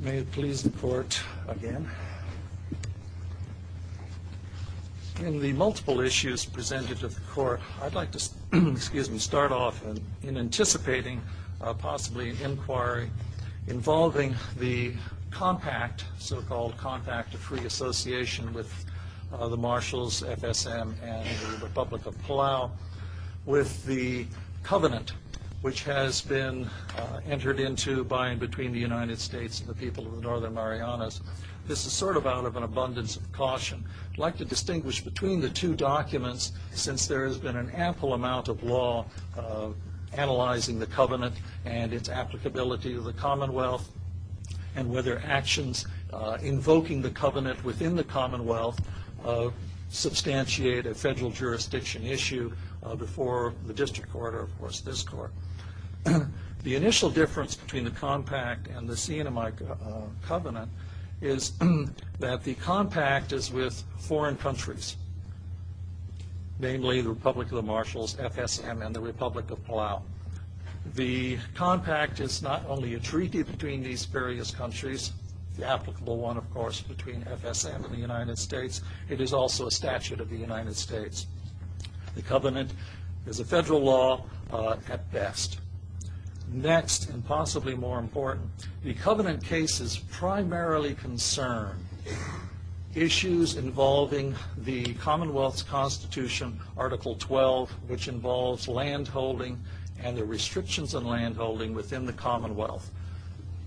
May it please the Court, again. In the multiple issues presented to the Court, I'd like to start off in anticipating possibly an inquiry involving the compact, so-called compact of free association with the Marshals, FSM, and the Republic of Palau, with the covenant which has been entered into by and between the United States and the people of the Northern Marianas. This is sort of out of an abundance of caution. I'd like to distinguish between the two documents since there has been an ample amount of law analyzing the covenant and its applicability to the Commonwealth, and whether actions invoking the covenant within the Commonwealth substantiate a federal jurisdiction issue before the District Court or, of course, this Court. The initial difference between the compact and the CNMI covenant is that the compact is with foreign countries, namely the Republic of the Marshals, FSM, and the Republic of Palau. The compact is not only a treaty between these various countries, the applicable one, of course, between FSM and the United States, it is also a statute of the United States. The covenant is a federal law at best. Next, and possibly more important, the covenant cases primarily concern issues involving the Commonwealth's Constitution, Article 12, which involves land holding and the restrictions on land holding within the Commonwealth.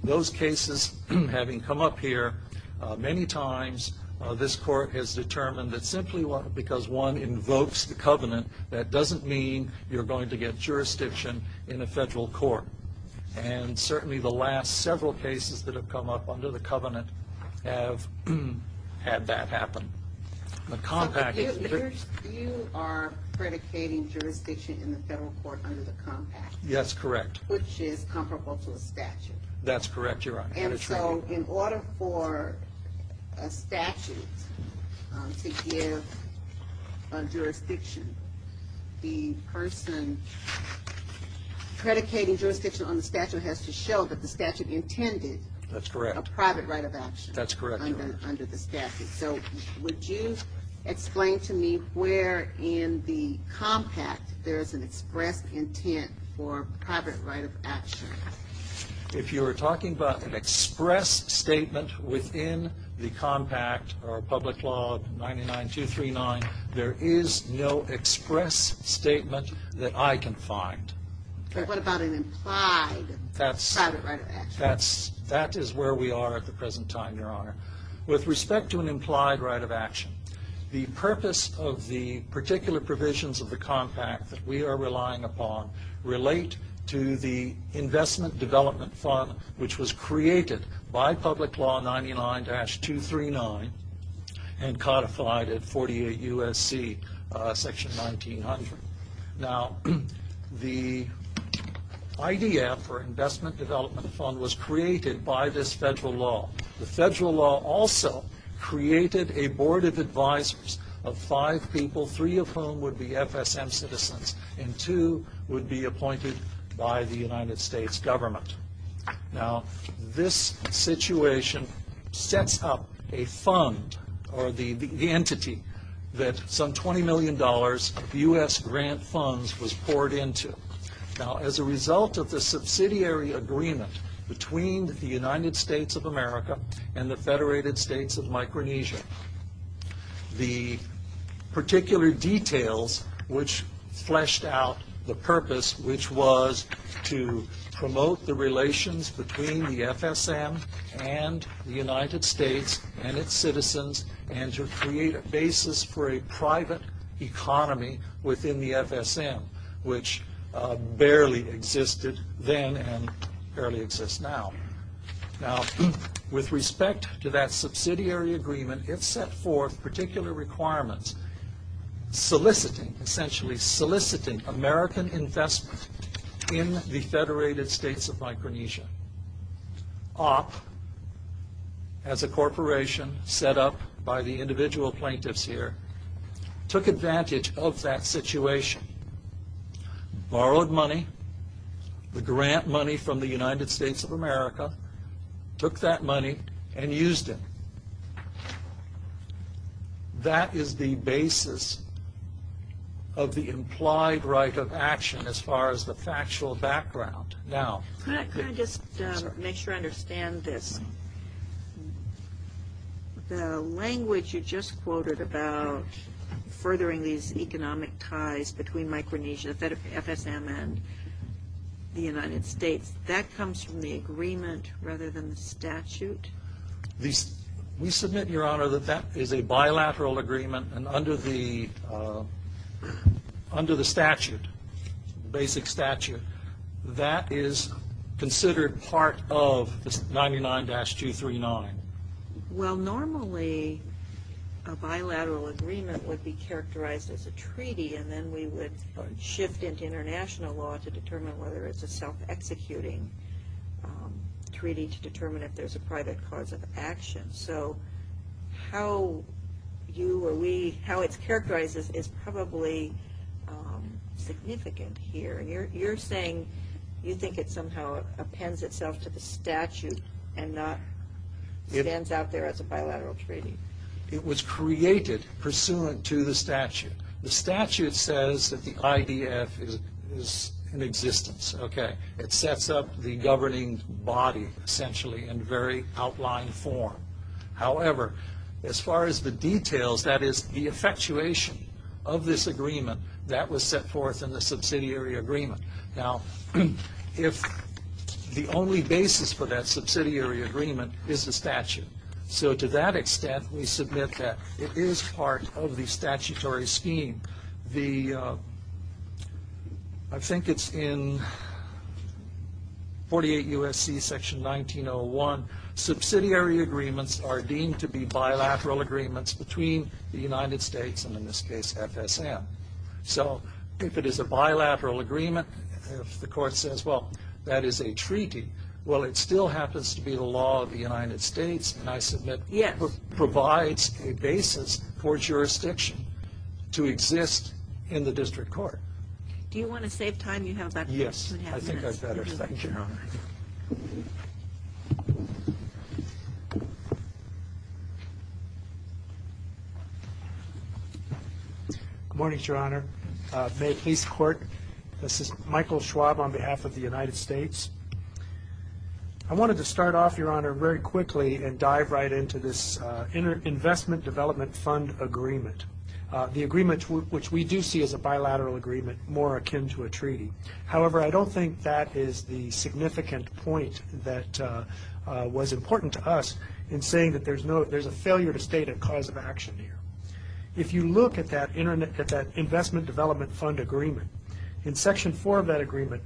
Those cases, having come up here many times, this Court has determined that simply because one invokes the covenant, that doesn't mean you're going to get jurisdiction in a federal court. And certainly the last several cases that have come up under the covenant have had that happen. You are predicating jurisdiction in the federal court under the compact? Yes, correct. Which is comparable to a statute? That's correct, Your Honor. And so in order for a statute to give a jurisdiction, the person predicating jurisdiction on the statute has to show that the statute intended a private right of action under the statute. So would you explain to me where in the compact there is an expressed intent for a private right of action? If you are talking about an express statement within the compact or public law 99239, there is no express statement that I can find. What about an implied private right of action? That is where we are at the present time, Your Honor. With respect to an implied right of action, the purpose of the particular provisions of the compact that we are relying upon relate to the investment development fund, which was created by public law 99239 and codified at 48 U.S.C. section 1900. Now the idea for investment development fund was created by this federal law. The federal law also created a board of advisors of five people, three of whom would be FSM citizens and two would be appointed by the United States government. Now this situation sets up a fund or the entity that some $20 million U.S. grant funds was poured into. Now as a result of the subsidiary agreement between the United States of America and the Federated States of Micronesia, the particular details which fleshed out the purpose which was to promote the relations between the FSM and the United States and its citizens and to create a basis for a private economy within the FSM, which barely existed then and barely exists now. Now with respect to that subsidiary agreement, it set forth particular requirements soliciting, essentially soliciting American investment in the Federated States of Micronesia. Op, as a corporation set up by the individual plaintiffs here, took advantage of that situation, borrowed money, the grant money from the United States of America, took that money and used it. That is the basis of the implied right of action as far as the factual background. Can I just make sure I understand this? The language you just quoted about furthering these economic ties between Micronesia, FSM and the United States, that comes from the agreement rather than the statute? We submit, Your Honor, that that is a bilateral agreement and under the statute, basic statute, that is considered part of 99-239. Well, normally a bilateral agreement would be characterized as a treaty and then we would shift into international law to determine whether it's a self-executing treaty to determine if there's a private cause of action. So how you or we, how it's characterized is probably significant here. You're saying you think it somehow appends itself to the statute and not stands out there as a bilateral treaty. It was created pursuant to the statute. The statute says that the IDF is in existence. Okay, it sets up the governing body essentially in very outlined form. However, as far as the details, that is the effectuation of this agreement, that was set forth in the subsidiary agreement. Now, if the only basis for that subsidiary agreement is the statute, so to that extent, we submit that it is part of the statutory scheme. I think it's in 48 U.S.C. section 1901, subsidiary agreements are deemed to be bilateral agreements between the United States and in this case, FSM. So if it is a bilateral agreement, if the court says, well, that is a treaty, well, it still happens to be the law of the United States and I submit provides a basis for jurisdiction to exist in the district court. Do you want to save time? You have about 15 and a half minutes. Yes, I think I'd better. Thank you, Your Honor. Good morning, Your Honor. May it please the Court, this is Michael Schwab on behalf of the United States. I wanted to start off, Your Honor, very quickly and dive right into this investment development fund agreement, the agreement which we do see as a bilateral agreement more akin to a treaty. However, I don't think that is the significant point that was important to us in saying that there's a failure to state a cause of action here. If you look at that investment development fund agreement, in section 4 of that agreement,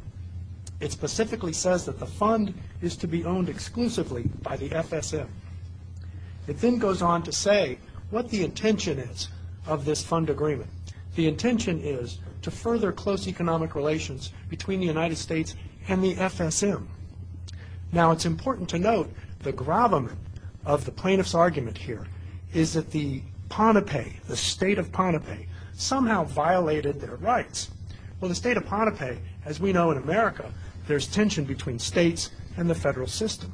it specifically says that the fund is to be owned exclusively by the FSM. It then goes on to say what the intention is of this fund agreement. The intention is to further close economic relations between the United States and the FSM. Now, it's important to note the gravamen of the plaintiff's argument here is that the state of Pohnpei somehow violated their rights. Well, the state of Pohnpei, as we know in America, there's tension between states and the federal system.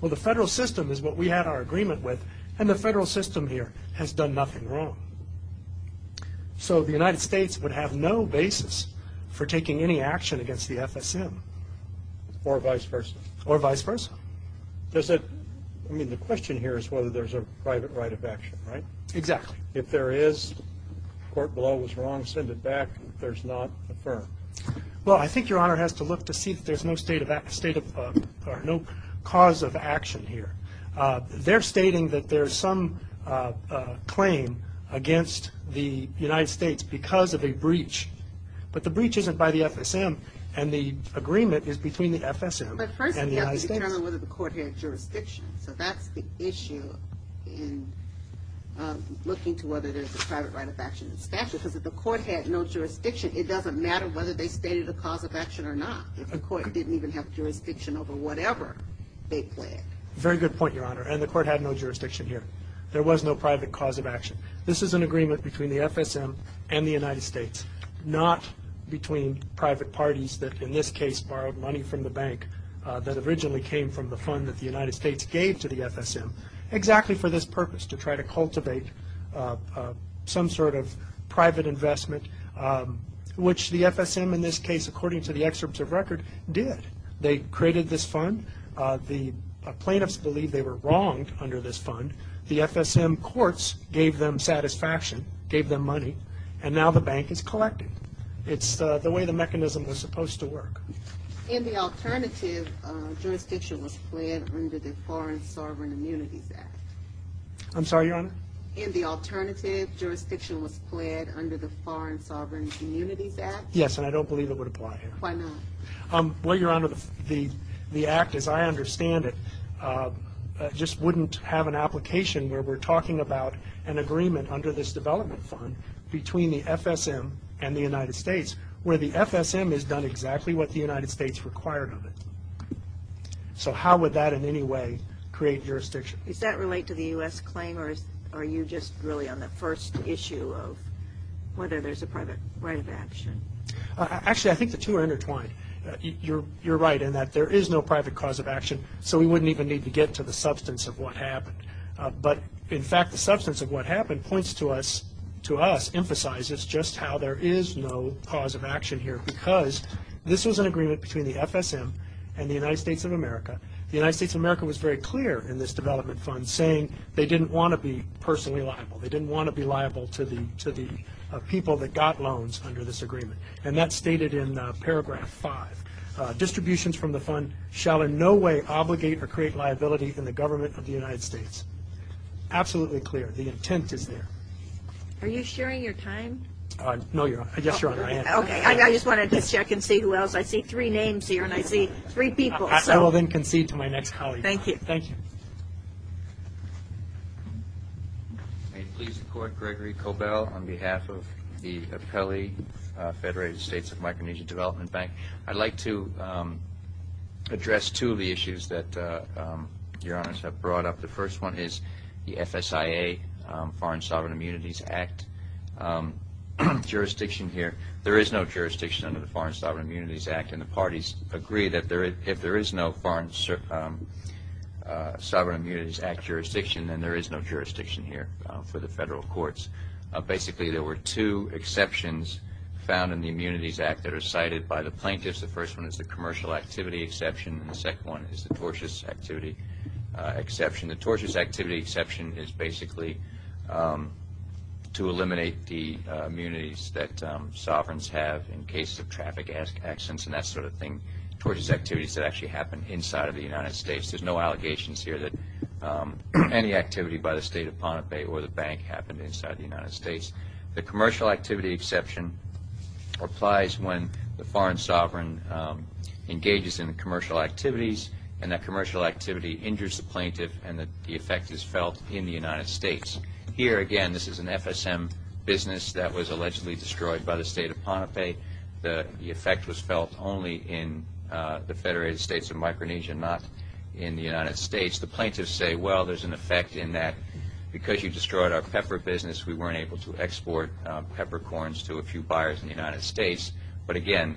Well, the federal system is what we had our agreement with, and the federal system here has done nothing wrong. So the United States would have no basis for taking any action against the FSM. Or vice versa. Or vice versa. Does it – I mean, the question here is whether there's a private right of action, right? Exactly. If there is, the court below was wrong, send it back. If there's not, affirm. Well, I think Your Honor has to look to see if there's no cause of action here. They're stating that there's some claim against the United States because of a breach. But the breach isn't by the FSM, and the agreement is between the FSM and the United States. But first, you have to determine whether the court had jurisdiction. So that's the issue in looking to whether there's a private right of action statute. Because if the court had no jurisdiction, it doesn't matter whether they stated a cause of action or not. If the court didn't even have jurisdiction over whatever they pled. Very good point, Your Honor. And the court had no jurisdiction here. There was no private cause of action. This is an agreement between the FSM and the United States, not between private parties that, in this case, borrowed money from the bank that originally came from the fund that the United States gave to the FSM, exactly for this purpose, to try to cultivate some sort of private investment, which the FSM, in this case, according to the excerpts of record, did. They created this fund. The plaintiffs believe they were wronged under this fund. The FSM courts gave them satisfaction, gave them money, and now the bank is collecting. It's the way the mechanism was supposed to work. In the alternative, jurisdiction was pled under the Foreign Sovereign Immunities Act. I'm sorry, Your Honor? In the alternative, jurisdiction was pled under the Foreign Sovereign Immunities Act. Yes, and I don't believe it would apply here. Why not? Well, Your Honor, the act as I understand it just wouldn't have an application where we're talking about an agreement under this development fund between the FSM and the United States, where the FSM has done exactly what the United States required of it. So how would that in any way create jurisdiction? Does that relate to the U.S. claim, or are you just really on the first issue of whether there's a private right of action? Actually, I think the two are intertwined. You're right in that there is no private cause of action, so we wouldn't even need to get to the substance of what happened. But, in fact, the substance of what happened points to us, to us, emphasizes just how there is no cause of action here, because this was an agreement between the FSM and the United States of America. The United States of America was very clear in this development fund, saying they didn't want to be personally liable. They didn't want to be liable to the people that got loans under this agreement, and that's stated in Paragraph 5. Distributions from the fund shall in no way obligate or create liability in the government of the United States. Absolutely clear. The intent is there. Are you sharing your time? No, Your Honor. Yes, Your Honor, I am. Okay. I just wanted to check and see who else. I see three names here, and I see three people. I will then concede to my next colleague. Thank you. Thank you. May it please the Court, Gregory Cobell, on behalf of the Appellee Federated States of Micronesia Development Bank. I'd like to address two of the issues that Your Honors have brought up. The first one is the FSIA, Foreign Sovereign Immunities Act, jurisdiction here. There is no jurisdiction under the Foreign Sovereign Immunities Act, and the parties agree that if there is no Foreign Sovereign Immunities Act jurisdiction, then there is no jurisdiction here for the federal courts. Basically, there were two exceptions found in the Immunities Act that are cited by the plaintiffs. The first one is the commercial activity exception, and the second one is the tortious activity exception. The tortious activity exception is basically to eliminate the immunities that sovereigns have in cases of traffic accidents and that sort of thing, tortious activities that actually happen inside of the United States. There's no allegations here that any activity by the State of Ponte Bay or the bank happened inside the United States. The commercial activity exception applies when the foreign sovereign engages in commercial activities, and that commercial activity injures the plaintiff, and the effect is felt in the United States. Here, again, this is an FSM business that was allegedly destroyed by the State of Ponte Bay. The effect was felt only in the Federated States of Micronesia, not in the United States. The plaintiffs say, well, there's an effect in that. Because you destroyed our pepper business, we weren't able to export peppercorns to a few buyers in the United States. But again,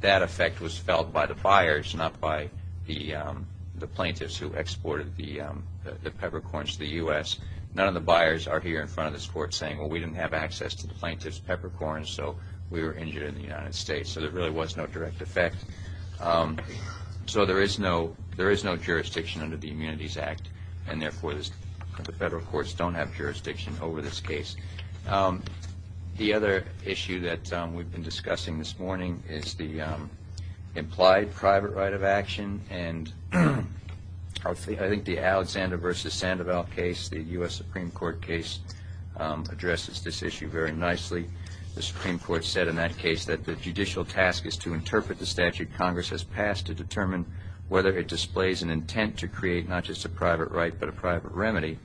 that effect was felt by the buyers, not by the plaintiffs who exported the peppercorns to the U.S. None of the buyers are here in front of this court saying, well, we didn't have access to the plaintiff's peppercorns, so we were injured in the United States. So there really was no direct effect. So there is no jurisdiction under the Immunities Act, and therefore the federal courts don't have jurisdiction over this case. The other issue that we've been discussing this morning is the implied private right of action, and I think the Alexander v. Sandoval case, the U.S. Supreme Court case, addresses this issue very nicely. The Supreme Court said in that case that the judicial task is to interpret the statute Congress has passed to determine whether it displays an intent to create not just a private right but a private remedy.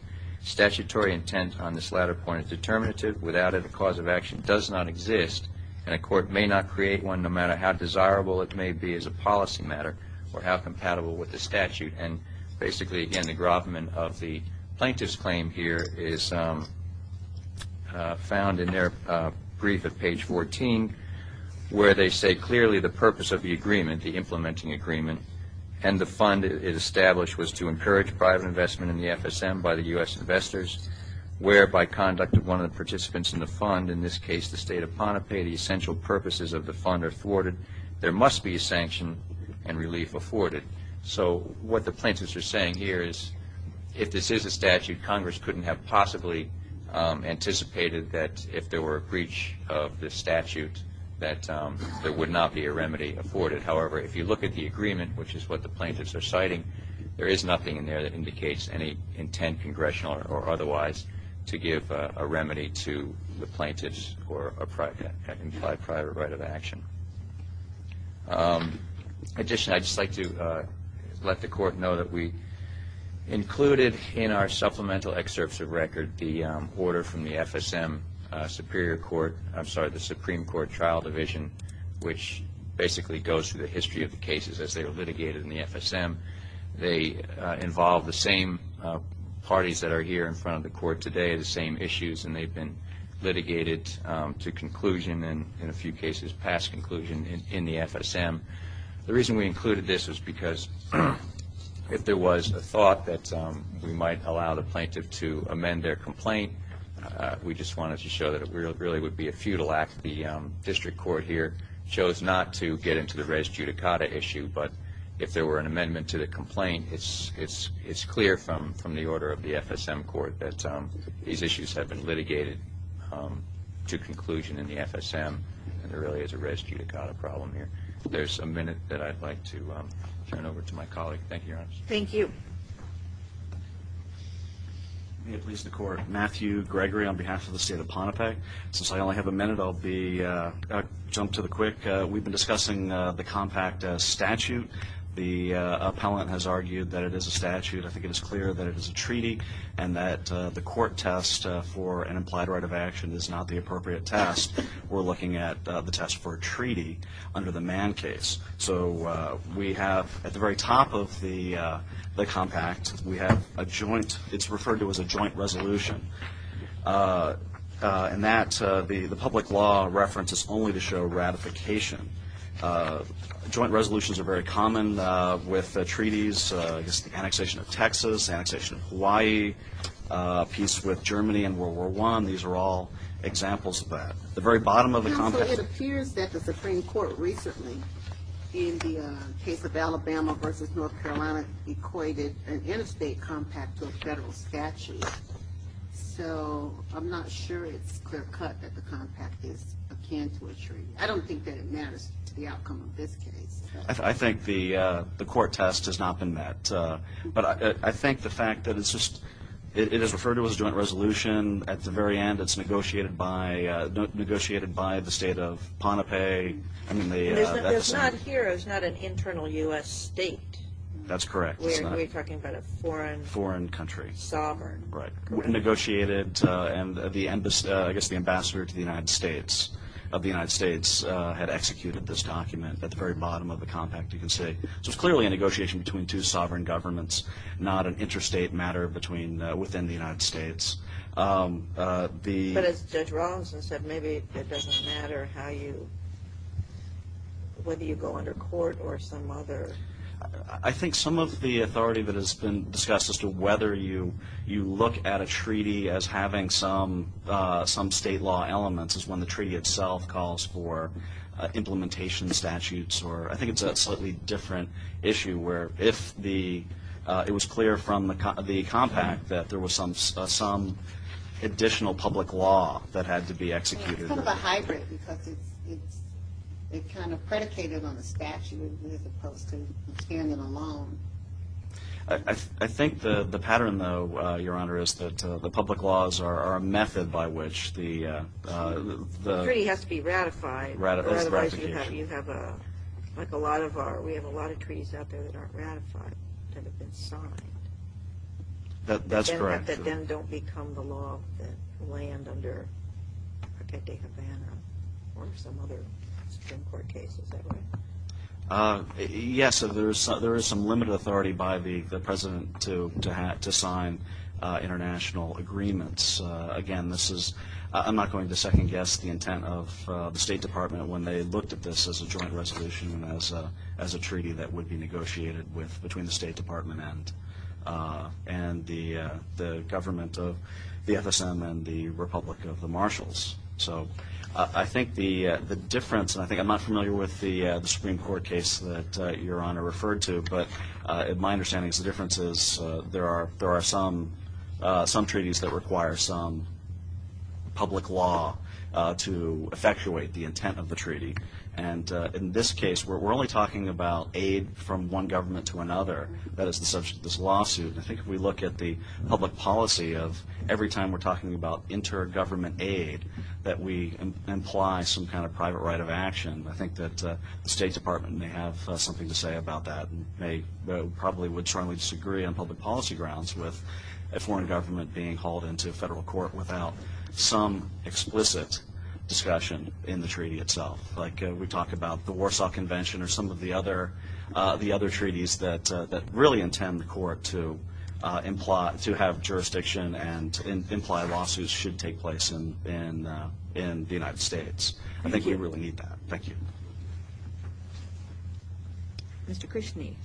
Statutory intent on this latter point is determinative. Without it, a cause of action does not exist, and a court may not create one no matter how desirable it may be as a policy matter or how compatible with the statute. And basically, again, the gravamen of the plaintiff's claim here is found in their brief at page 14, where they say clearly the purpose of the agreement, the implementing agreement, and the fund it established was to encourage private investment in the FSM by the U.S. investors, whereby conduct of one of the participants in the fund, in this case the state of Pohnpei, the essential purposes of the fund are thwarted. There must be a sanction and relief afforded. So what the plaintiffs are saying here is if this is a statute, Congress couldn't have possibly anticipated that if there were a breach of this statute that there would not be a remedy afforded. However, if you look at the agreement, which is what the plaintiffs are citing, there is nothing in there that indicates any intent, congressional or otherwise, to give a remedy to the plaintiffs for an implied private right of action. Additionally, I'd just like to let the Court know that we included in our supplemental excerpts of record the order from the FSM Superior Court, I'm sorry, the Supreme Court Trial Division, which basically goes through the history of the cases as they were litigated in the FSM. They involve the same parties that are here in front of the Court today, the same issues, and they've been litigated to conclusion and, in a few cases, past conclusion in the FSM. The reason we included this was because if there was a thought that we might allow the plaintiff to amend their complaint, we just wanted to show that it really would be a futile act. The district court here chose not to get into the res judicata issue, but if there were an amendment to the complaint, it's clear from the order of the FSM Court that these issues have been litigated to conclusion in the FSM, and there really is a res judicata problem here. There's a minute that I'd like to turn over to my colleague. Thank you, Your Honor. Thank you. May it please the Court. Matthew Gregory on behalf of the State of Pohnpei. Since I only have a minute, I'll jump to the quick. We've been discussing the compact statute. The appellant has argued that it is a statute. I think it is clear that it is a treaty and that the court test for an implied right of action is not the appropriate test. We're looking at the test for a treaty under the Mann case. So we have at the very top of the compact, we have a joint. It's referred to as a joint resolution. In that, the public law reference is only to show ratification. Joint resolutions are very common with treaties. This is the annexation of Texas, the annexation of Hawaii, a piece with Germany in World War I. These are all examples of that. At the very bottom of the compact. It appears that the Supreme Court recently, in the case of Alabama versus North Carolina, equated an interstate compact to a federal statute. So I'm not sure it's clear cut that the compact is akin to a treaty. I don't think that it matters to the outcome of this case. I think the court test has not been met. But I think the fact that it's just, it is referred to as a joint resolution. At the very end, it's negotiated by the state of Pohnpei. It's not here. It's not an internal U.S. state. We're talking about a foreign country. Sovereign. Right. Negotiated, and I guess the ambassador to the United States of the United States had executed this document at the very bottom of the compact, you can see. So it's clearly a negotiation between two sovereign governments, not an interstate matter within the United States. But as Judge Robinson said, maybe it doesn't matter how you, whether you go under court or some other. I think some of the authority that has been discussed as to whether you look at a treaty as having some state law elements is when the treaty itself calls for implementation statutes. I think it's a slightly different issue where if it was clear from the compact that there was some additional public law that had to be executed. It's kind of a hybrid because it's kind of predicated on the statute as opposed to standing alone. I think the pattern, though, Your Honor, is that the public laws are a method by which the... The treaty has to be ratified, or otherwise you have a, like a lot of our, we have a lot of treaties out there that aren't ratified that have been signed. That's correct. But that then don't become the law that land under Protecting Havana or some other Supreme Court case, is that right? Yes, there is some limited authority by the President to sign international agreements. Again, this is, I'm not going to second guess the intent of the State Department when they looked at this as a joint resolution and as a treaty that would be negotiated between the State Department and the government of the FSM and the Republic of the Marshals. So I think the difference, and I think I'm not familiar with the Supreme Court case that Your Honor referred to, but my understanding is the difference is there are some treaties that require some public law to effectuate the intent of the treaty. And in this case, we're only talking about aid from one government to another. That is the subject of this lawsuit. I think if we look at the public policy of every time we're talking about inter-government aid that we imply some kind of private right of action, I think that the State Department may have something to say about that. They probably would strongly disagree on public policy grounds with a foreign government being hauled into a federal court without some explicit discussion in the treaty itself. Like we talk about the Warsaw Convention or some of the other treaties that really intend the court to have jurisdiction and imply lawsuits should take place in the United States. I think we really need that. Thank you. Mr. Krishni. Thank you.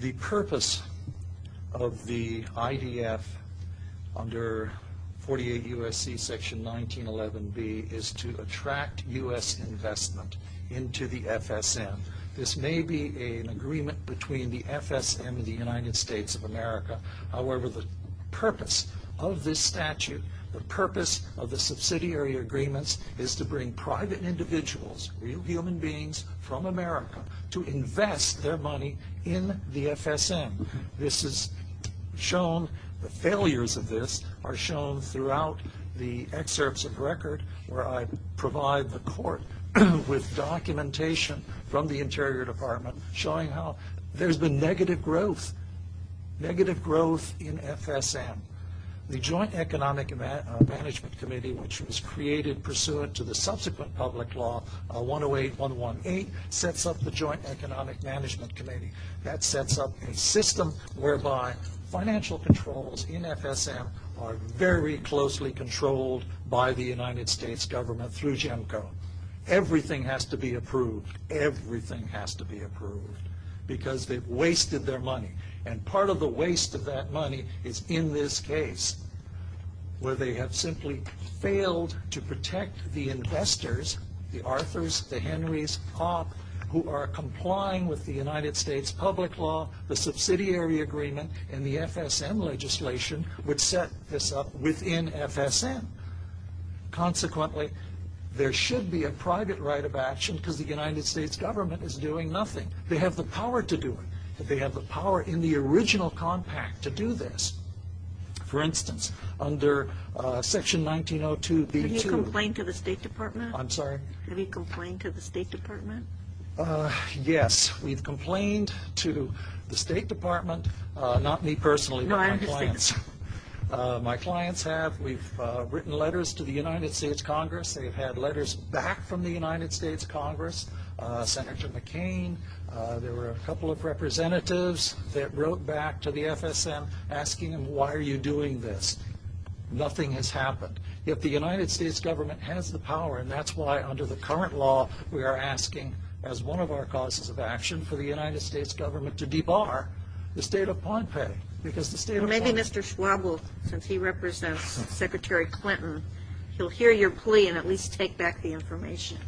The purpose of the IDF under 48 U.S.C. section 1911B is to attract U.S. investment into the FSM. This may be an agreement between the FSM and the United States of America. However, the purpose of this statute, the purpose of the subsidiary agreements is to bring private individuals, real human beings from America to invest their money in the FSM. This is shown, the failures of this are shown throughout the excerpts of record where I provide the court with documentation from the Interior Department showing how there's been negative growth, negative growth in FSM. The Joint Economic Management Committee which was created pursuant to the subsequent public law, 108118, sets up the Joint Economic Management Committee. That sets up a system whereby financial controls in FSM are very closely controlled by the United States government through GEMCO. Everything has to be approved, everything has to be approved because they've wasted their money. And part of the waste of that money is in this case where they have simply failed to protect the investors, the Arthurs, the Henrys, Hopp, who are complying with the United States public law, the subsidiary agreement and the FSM legislation which set this up within FSM. Consequently, there should be a private right of action because the United States government is doing nothing. They have the power to do it. They have the power in the original compact to do this. For instance, under Section 1902B2... Have you complained to the State Department? I'm sorry? Have you complained to the State Department? Yes, we've complained to the State Department, not me personally but my clients. My clients have. We've written letters to the United States Congress. They've had letters back from the United States Congress, Senator McCain. There were a couple of representatives that wrote back to the FSM asking them, why are you doing this? Nothing has happened. Yet the United States government has the power and that's why under the current law we are asking as one of our causes of action for the United States government to debar the State of Pompeii because the State of Pompeii... Maybe Mr. Schwab will, since he represents Secretary Clinton, he'll hear your plea and at least take back the information.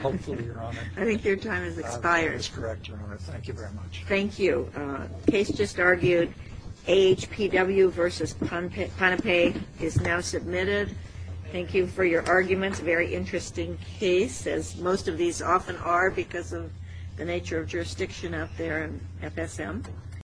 Hopefully, Your Honor. I think your time has expired. That is correct, Your Honor. Thank you very much. Thank you. Case just argued, AHPW v. Pohnpei is now submitted. Thank you for your arguments. Very interesting case as most of these often are because of the nature of jurisdiction out there in FSM.